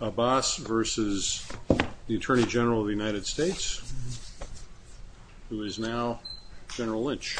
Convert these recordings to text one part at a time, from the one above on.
Abbas v. Attorney General of the United States, who is now General Lynch.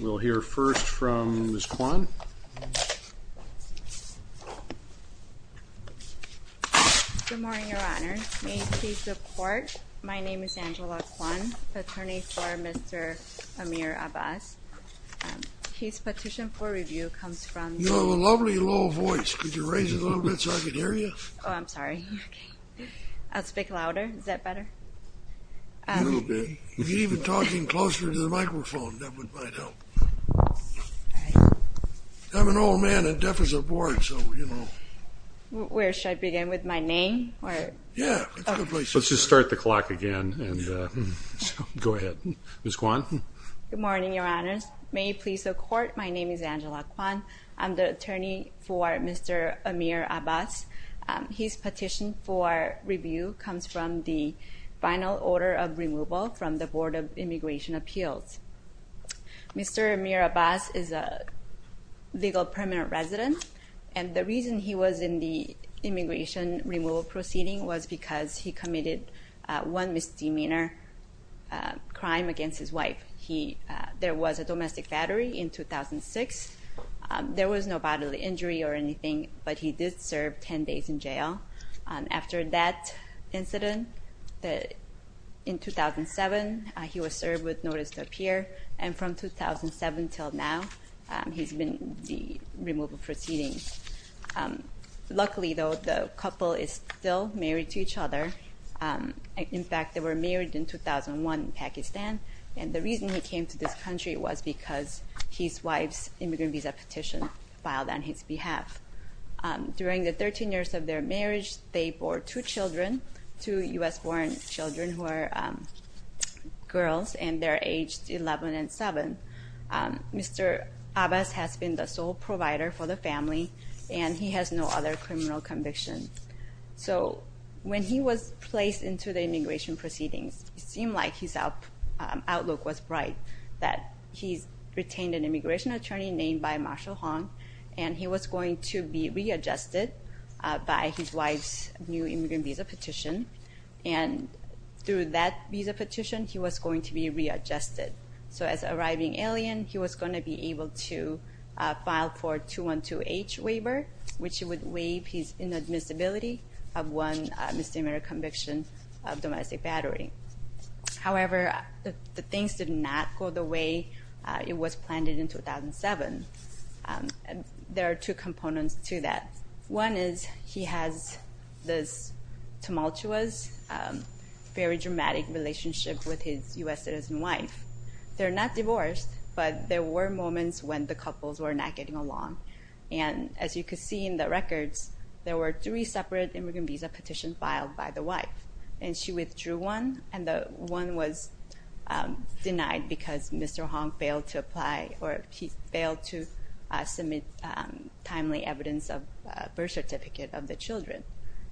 We'll hear first from Ms. Kwon. Good morning, Your Honor. May you please support? My name is Angela Kwon, attorney for Mr. Aamir Abbas. His petition for review comes from... You have a lovely, low voice. Could you raise it a little bit so I can hear you? Oh, I'm sorry. I'll speak louder. Is that better? A little bit. If you're even talking closer to the microphone, that might help. I'm an old man and deaf as a board, so, you know... Where should I begin? With my name? Yeah, it's a good place. Let's just start the clock again and go ahead. Ms. Kwon? Good morning, Your Honors. May you please support? My name is Angela Kwon. I'm the attorney for Mr. Aamir Abbas. His petition for review comes from the final order of removal from the Board of Immigration Appeals. Mr. Aamir Abbas is a legal permanent resident, and the reason he was in the immigration removal proceeding was because he committed one misdemeanor crime against his wife. There was a domestic battery in 2006. There was no bodily injury or anything, but he did serve 10 days in jail. After that incident, in 2007, he was served with notice to appear, and from 2007 until now, he's been in the removal proceeding. Luckily, though, the couple is still married to each other. In fact, they were married in 2001 in Pakistan, and the reason he came to this country was because his wife's immigrant visa petition filed on his behalf. During the 13 years of their marriage, they bore two children, two U.S.-born children who are girls, and they're aged 11 and 7. Mr. Abbas has been the sole provider for the family, and he has no other criminal convictions. So when he was placed into the immigration proceedings, it seemed like his outlook was bright, that he's retained an immigration attorney named by Marshall Hong, and he was going to be readjusted by his wife's new immigrant visa petition, and through that visa petition, he was going to be readjusted. So as an arriving alien, he was going to be able to file for a 212H waiver, which would waive his inadmissibility of one misdemeanor conviction of domestic battery. However, the things did not go the way it was planned in 2007. There are two components to that. One is he has this tumultuous, very dramatic relationship with his U.S. citizen wife. They're not divorced, but there were moments when the couples were not getting along, and as you can see in the records, there were three separate immigrant visa petitions filed by the wife, and she withdrew one, and the one was denied because Mr. Hong failed to apply, or he failed to submit timely evidence of birth certificate of the children.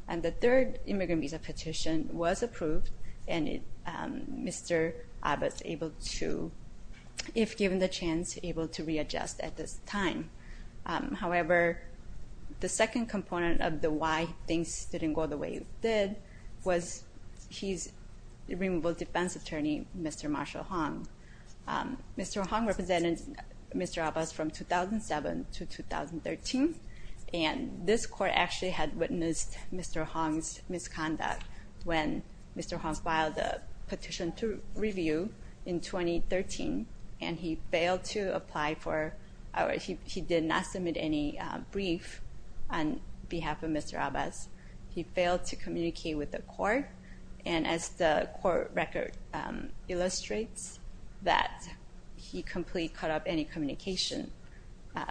And the third immigrant visa petition was approved, and Mr. Abe was able to, if given the chance, able to readjust at this time. However, the second component of the why things didn't go the way it did was he's a removable defense attorney, Mr. Marshall Hong. Mr. Hong represented Mr. Abe from 2007 to 2013, and this court actually had witnessed Mr. Hong's misconduct when Mr. Hong filed a petition to review in 2013, and he failed to apply for or he did not submit any brief on behalf of Mr. Abe. He failed to communicate with the court, and as the court record illustrates, that he completely cut off any communication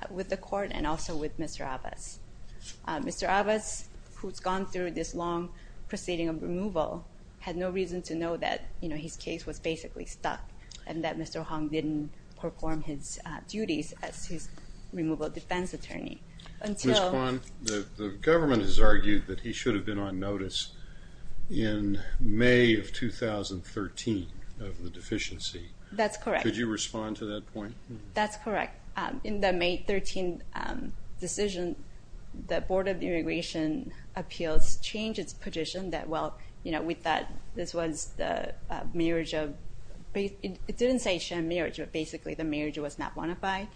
with the court and also with Mr. Abe. Mr. Abe, who's gone through this long proceeding of removal, had no reason to know that his case was basically stuck and that Mr. Hong didn't perform his duties as his removable defense attorney until- Ms. Kwon, the government has argued that he should have been on notice in May of 2013 of the deficiency. That's correct. Could you respond to that point? That's correct. In the May 13 decision, the Board of Immigration Appeals changed its position that, well, we thought this was the marriage of-it didn't say sham marriage, but basically the marriage was not bona fide.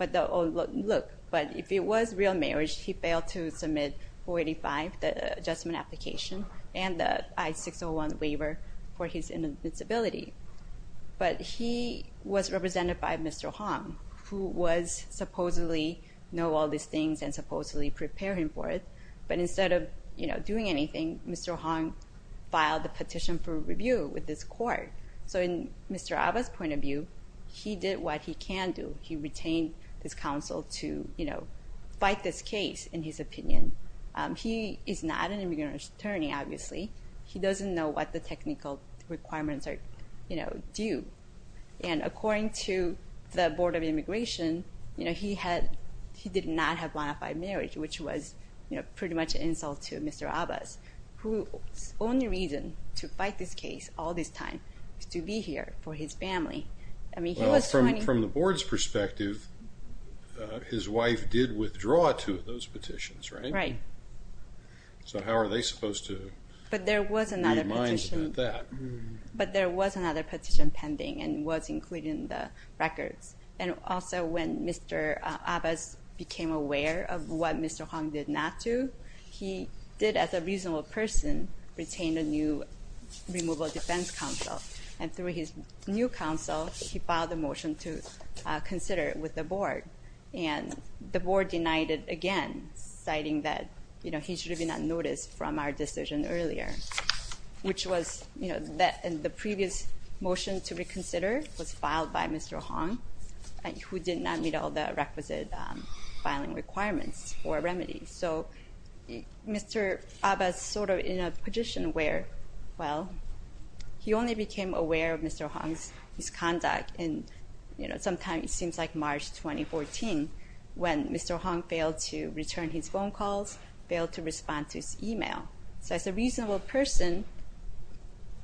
Look, but if it was real marriage, he failed to submit 485, the adjustment application, and the I-601 waiver for his inadmissibility. But he was represented by Mr. Hong, who was supposedly know all these things and supposedly prepare him for it, but instead of doing anything, Mr. Hong filed a petition for review with this court. So in Mr. Abe's point of view, he did what he can do. He retained his counsel to fight this case in his opinion. He is not an immigrant attorney, obviously. He doesn't know what the technical requirements are due. And according to the Board of Immigration, you know, he did not have bona fide marriage, which was, you know, pretty much an insult to Mr. Abe, whose only reason to fight this case all this time is to be here for his family. I mean, he was- Well, from the Board's perspective, his wife did withdraw two of those petitions, right? Right. So how are they supposed to- But there was another petition- And also when Mr. Abe became aware of what Mr. Hong did not do, he did, as a reasonable person, retain a new removal defense counsel. And through his new counsel, he filed a motion to consider it with the Board. And the Board denied it again, citing that, you know, he should have been unnoticed from our decision earlier, which was, you know, the previous motion to reconsider was filed by Mr. Hong, who did not meet all the requisite filing requirements or remedies. So Mr. Abe is sort of in a position where, well, he only became aware of Mr. Hong's conduct in, you know, sometime it seems like March 2014, when Mr. Hong failed to return his phone calls, failed to respond to his email. So as a reasonable person,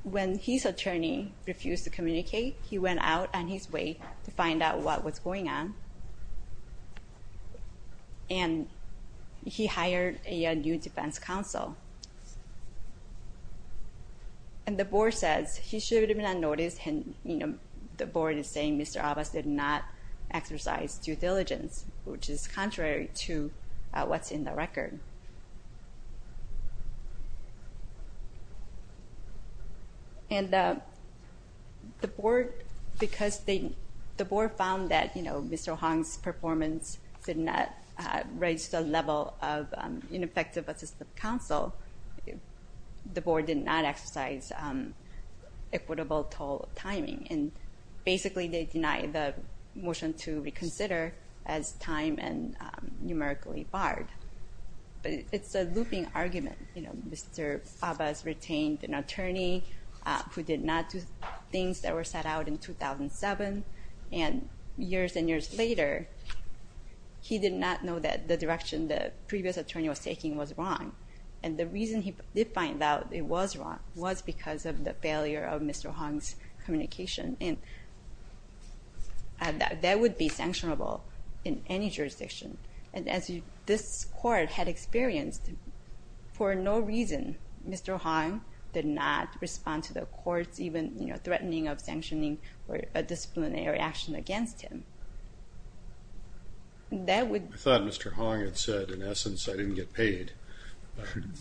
when his attorney refused to communicate, he went out on his way to find out what was going on. And he hired a new defense counsel. And the Board says he should have been unnoticed. And, you know, the Board is saying Mr. Abe did not exercise due diligence, which is contrary to what's in the record. And the Board, because the Board found that, you know, Mr. Hong's performance did not raise the level of ineffective assistive counsel, the Board did not exercise equitable toll timing. And basically they denied the motion to reconsider as time and numerically barred. But it's a looping argument. You know, Mr. Abe has retained an attorney who did not do things that were set out in 2007. And years and years later, he did not know that the direction the previous attorney was taking was wrong. And the reason he did find out it was wrong was because of the failure of Mr. Hong's communication. And that would be sanctionable in any jurisdiction. And as this Court had experienced, for no reason, Mr. Hong did not respond to the Court's even, you know, threatening of sanctioning a disciplinary action against him. I thought Mr. Hong had said, in essence, I didn't get paid.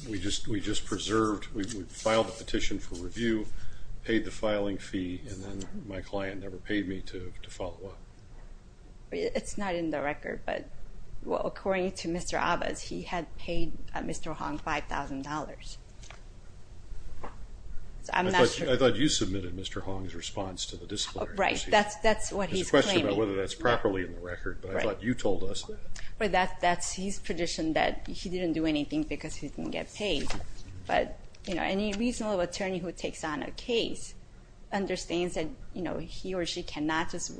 We just preserved, we filed a petition for review, paid the filing fee, and then my client never paid me to follow up. It's not in the record, but according to Mr. Abe, he had paid Mr. Hong $5,000. I thought you submitted Mr. Hong's response to the disciplinary proceeding. Right, that's what he's claiming. There's a question about whether that's properly in the record, but I thought you told us that. That's his petition that he didn't do anything because he didn't get paid. But, you know, any reasonable attorney who takes on a case understands that, you know, he or she cannot just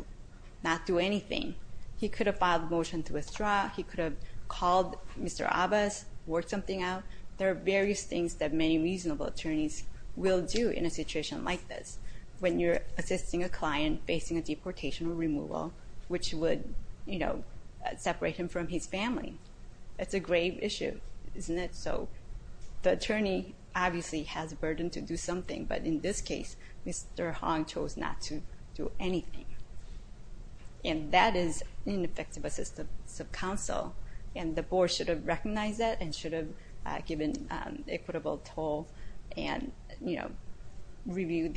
not do anything. He could have filed a motion to withdraw. He could have called Mr. Abbas, worked something out. There are various things that many reasonable attorneys will do in a situation like this, when you're assisting a client facing a deportation or removal, which would, you know, separate him from his family. It's a grave issue, isn't it? So the attorney obviously has a burden to do something, but in this case, Mr. Hong chose not to do anything. And that is ineffective assistance of counsel, and the board should have recognized that and should have given equitable toll and, you know, reviewed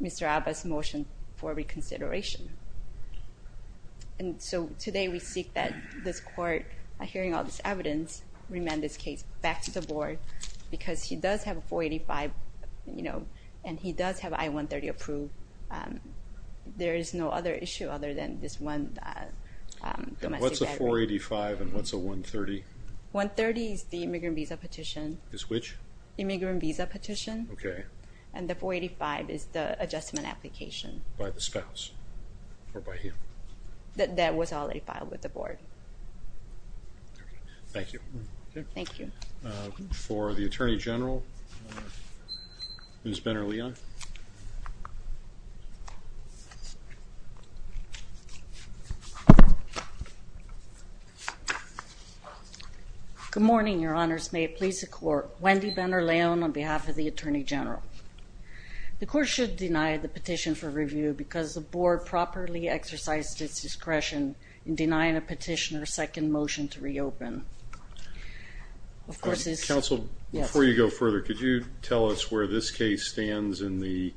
Mr. Abbas' motion for reconsideration. And so today we seek that this court, hearing all this evidence, remand this case back to the board because he does have a 485, you know, and he does have I-130 approved. There is no other issue other than this one domestic violence. And what's a 485 and what's a 130? 130 is the immigrant visa petition. Is which? Immigrant visa petition. Okay. And the 485 is the adjustment application. By the spouse or by him? That was already filed with the board. Thank you. Thank you. For the attorney general, Ms. Benner-Leon. Good morning, Your Honors. May it please the court. Wendy Benner-Leon on behalf of the attorney general. The court should deny the petition for review because the board properly exercised its discretion in denying a petitioner a second motion to reopen. Counsel, before you go further, could you tell us where this case stands in the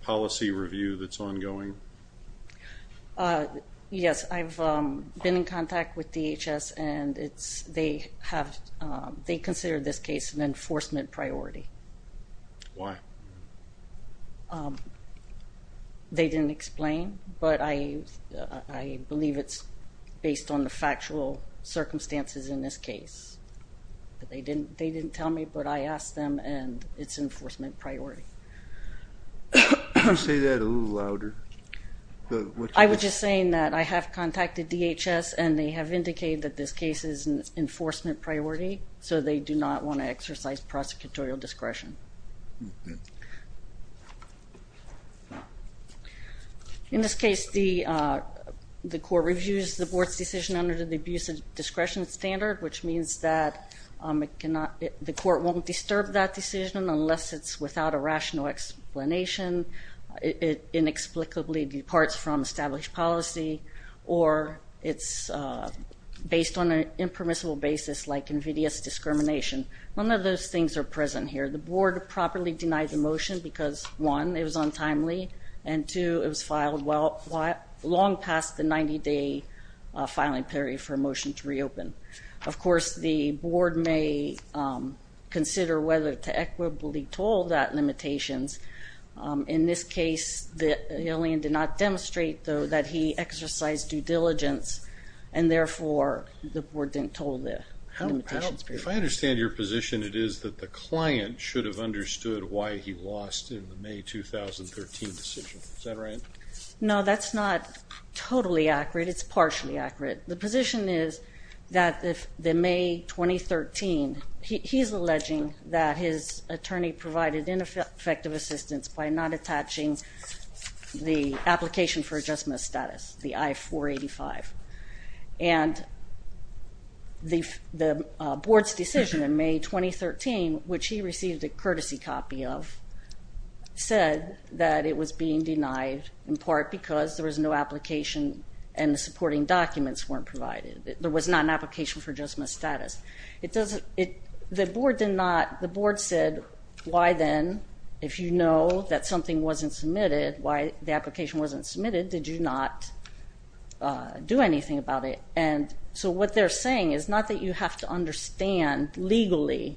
policy review that's ongoing? Yes. I've been in contact with DHS and they consider this case an enforcement priority. Why? They didn't explain. But I believe it's based on the factual circumstances in this case. They didn't tell me, but I asked them and it's an enforcement priority. Could you say that a little louder? I was just saying that I have contacted DHS and they have indicated that this case is an enforcement priority, so they do not want to exercise prosecutorial discretion. Okay. In this case, the court reviews the board's decision under the abuse of discretion standard, which means that the court won't disturb that decision unless it's without a rational explanation, it inexplicably departs from established policy, or it's based on an impermissible basis like invidious discrimination. None of those things are present here. The board properly denied the motion because, one, it was untimely, and two, it was long past the 90-day filing period for a motion to reopen. Of course, the board may consider whether to equitably toll that limitations. In this case, the alien did not demonstrate, though, that he exercised due diligence, and therefore the board didn't toll the limitations. If I understand your position, it is that the client should have understood why he lost in the May 2013 decision. Is that right? No, that's not totally accurate. It's partially accurate. The position is that in May 2013, he's alleging that his attorney provided ineffective assistance by not attaching the application for adjustment status, the I-485, and the board's decision in May 2013, which he received a courtesy copy of, said that it was being denied in part because there was no application and the supporting documents weren't provided. There was not an application for adjustment status. The board said, why then, if you know that something wasn't submitted, why the application wasn't submitted, did you not do anything about it? And so what they're saying is not that you have to understand legally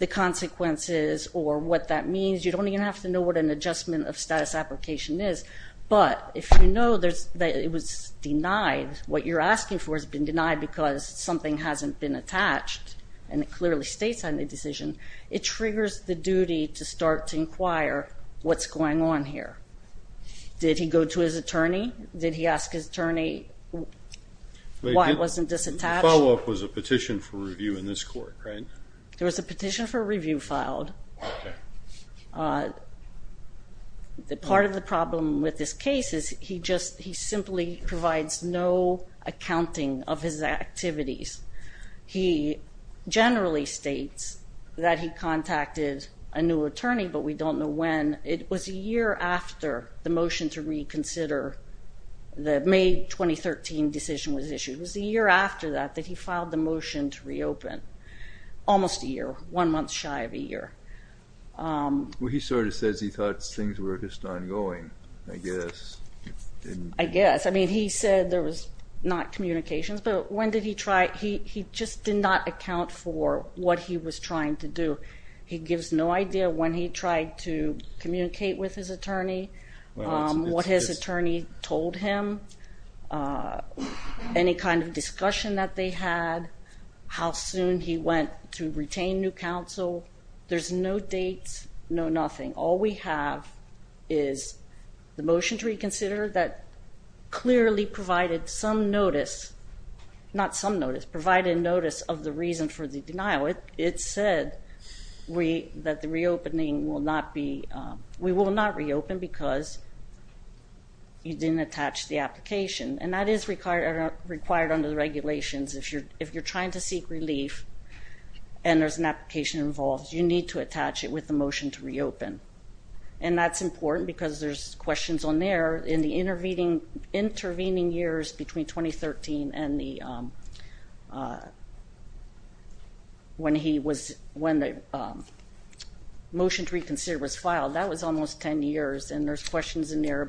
the consequences or what that means. You don't even have to know what an adjustment of status application is, but if you know that it was denied, what you're asking for has been denied because something hasn't been attached, and it clearly states on the decision, it triggers the duty to start to inquire what's going on here. Did he go to his attorney? Did he ask his attorney why it wasn't disattached? The follow-up was a petition for review in this court, right? There was a petition for review filed. Part of the problem with this case is he simply provides no accounting of his activities. He generally states that he contacted a new attorney, but we don't know when. It was a year after the motion to reconsider, the May 2013 decision was issued. It was a year after that that he filed the motion to reopen, almost a year, one month shy of a year. Well, he sort of says he thought things were just ongoing, I guess. I guess. I mean, he said there was not communications, but when did he try? He just did not account for what he was trying to do. He gives no idea when he tried to communicate with his attorney, what his attorney told him, any kind of discussion that they had, how soon he went to retain new counsel. There's no dates, no nothing. All we have is the motion to reconsider that clearly provided some notice, not some notice, provided notice of the reason for the denial. It said that the reopening will not be, we will not reopen because you didn't attach the application. And that is required under the regulations. If you're trying to seek relief and there's an application involved, you need to attach it with the motion to reopen. And that's important because there's questions on there. In the intervening years between 2013 and when the motion to reconsider was filed, that was almost 10 years, and there's questions in there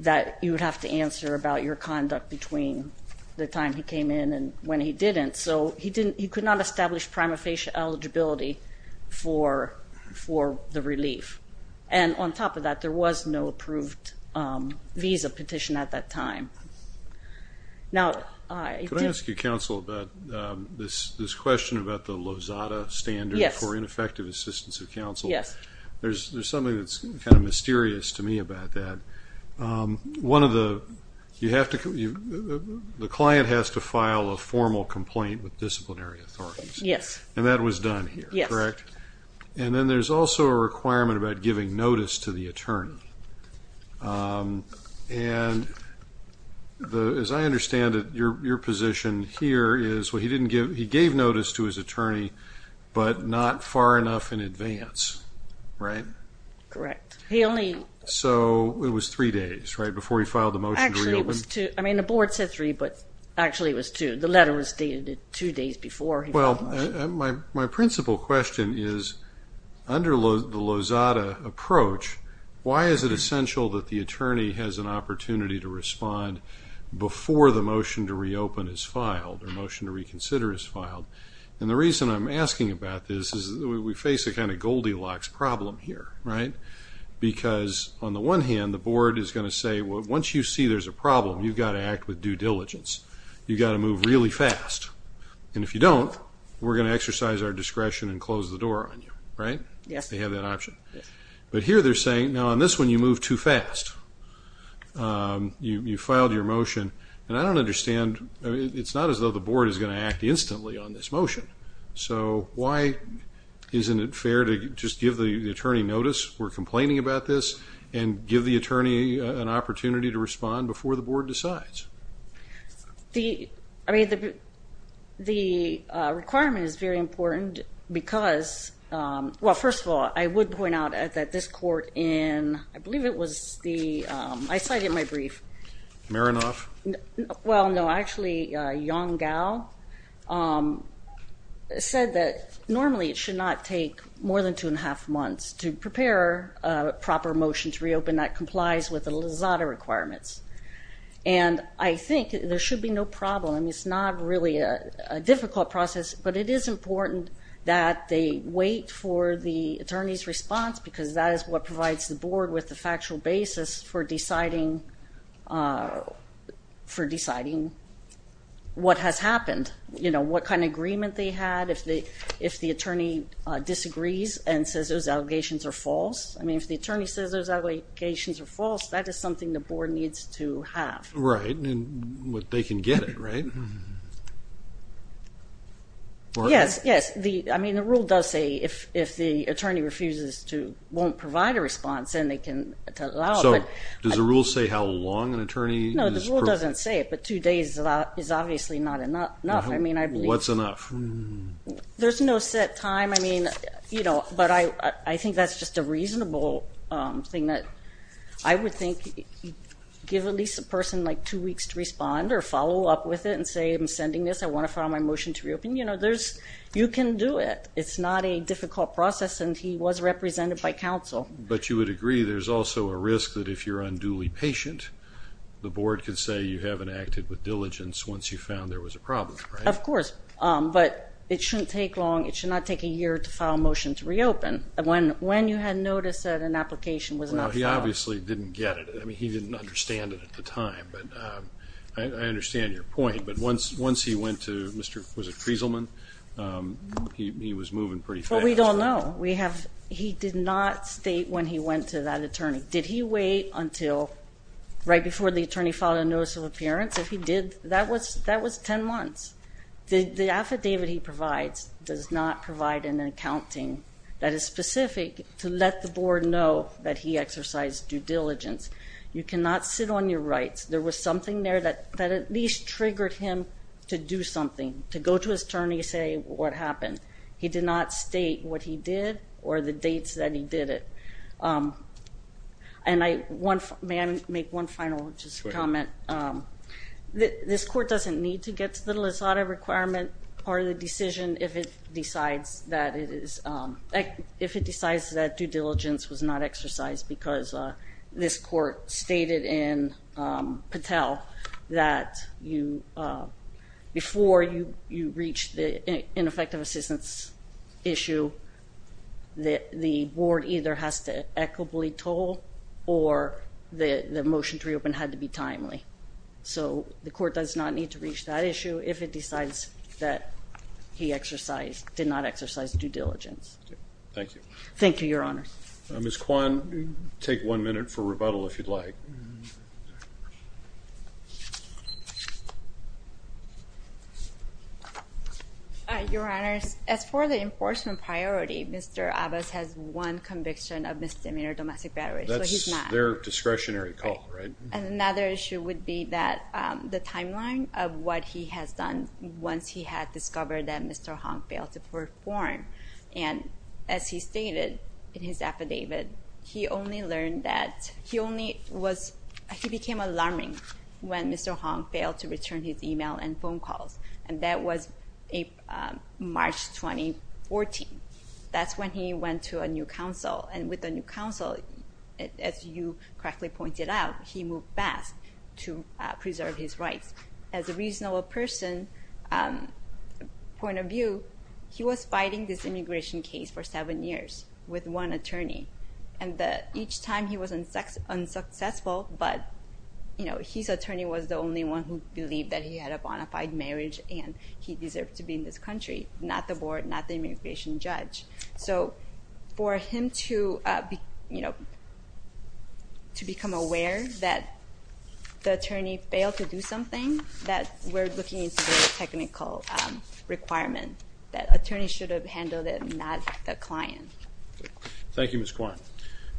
that you would have to answer about your conduct between the time he came in and when he didn't. So he could not establish prima facie eligibility for the relief. And on top of that, there was no approved visa petition at that time. Could I ask you, Counsel, about this question about the Lozada standard for ineffective assistance of counsel? Yes. There's something that's kind of mysterious to me about that. One of the, you have to, the client has to file a formal complaint with disciplinary authorities. Yes. And that was done here, correct? Yes. And then there's also a requirement about giving notice to the attorney. And as I understand it, your position here is he gave notice to his attorney, but not far enough in advance, right? Correct. So it was three days, right, before he filed the motion to reopen? Actually, it was two. I mean, the board said three, but actually it was two. The letter was dated two days before he filed the motion. Well, my principal question is, under the Lozada approach, why is it essential that the attorney has an opportunity to respond before the motion to reopen is filed or motion to reconsider is filed? And the reason I'm asking about this is we face a kind of Goldilocks problem here, right? Because on the one hand, the board is going to say, well, once you see there's a problem, you've got to act with due diligence. You've got to move really fast. And if you don't, we're going to exercise our discretion and close the door on you, right? Yes. They have that option. But here they're saying, now, on this one, you move too fast. You filed your motion. And I don't understand, it's not as though the board is going to act instantly on this motion. So why isn't it fair to just give the attorney notice we're complaining about this and give the attorney an opportunity to respond before the board decides? I mean, the requirement is very important because, well, first of all, I would point out that this court in, I believe it was the, I cited my brief. Maranoff? Well, no, actually, Yong Gao. Said that normally it should not take more than two and a half months to prepare a proper motion to reopen that complies with the Lizada requirements. And I think there should be no problem. It's not really a difficult process, but it is important that they wait for the attorney's response, because that is what provides the board with the factual basis for deciding, what has happened, you know, what kind of agreement they had. If the attorney disagrees and says those allegations are false, I mean, if the attorney says those allegations are false, that is something the board needs to have. Right. And they can get it, right? Yes. Yes. I mean, the rule does say if the attorney refuses to, won't provide a response, then they can allow it. So does the rule say how long an attorney? No, the rule doesn't say it, but two days is obviously not enough. I mean, I believe. What's enough? There's no set time. I mean, you know, but I think that's just a reasonable thing that I would think give at least a person like two weeks to respond or follow up with it and say I'm sending this, I want to file my motion to reopen. You know, there's, you can do it. It's not a difficult process and he was represented by counsel. But you would agree there's also a risk that if you're unduly patient, the board can say you haven't acted with diligence once you found there was a problem, right? Of course. But it shouldn't take long. It should not take a year to file a motion to reopen. When you had noticed that an application was not filed. No, he obviously didn't get it. I mean, he didn't understand it at the time. But I understand your point. But once he went to Mr. Frieselman, he was moving pretty fast. Well, we don't know. He did not state when he went to that attorney. Did he wait until right before the attorney filed a notice of appearance? If he did, that was ten months. The affidavit he provides does not provide an accounting that is specific to let the board know that he exercised due diligence. You cannot sit on your rights. There was something there that at least triggered him to do something, to go to his attorney and say what happened. He did not state what he did or the dates that he did it. And may I make one final just comment? This court doesn't need to get to the Lizada requirement or the decision if it decides that due diligence was not exercised because this court stated in Patel that before you reach the ineffective assistance issue, the board either has to equitably toll or the motion to reopen had to be timely. So the court does not need to reach that issue if it decides that he exercised, did not exercise due diligence. Thank you. Thank you, Your Honor. Ms. Kwan, take one minute for rebuttal if you'd like. Your Honor, as for the enforcement priority, Mr. Abbas has one conviction of misdemeanor domestic battery. That's their discretionary call, right? Another issue would be that the timeline of what he has done once he had discovered that Mr. Hong failed to perform. And as he stated in his affidavit, he became alarming when Mr. Hong failed to return his email and phone calls. And that was March 2014. That's when he went to a new counsel. And with the new counsel, as you correctly pointed out, he moved fast to preserve his rights. As a reasonable person, point of view, he was fighting this immigration case for seven years with one attorney. And each time he was unsuccessful, but his attorney was the only one who believed that he had a bona fide marriage and he deserved to be in this country, not the board, not the immigration judge. So for him to become aware that the attorney failed to do something, that we're looking into the technical requirements. That attorney should have handled it, not the client. Thank you, Ms. Kwan.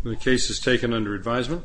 The case is taken under advisement.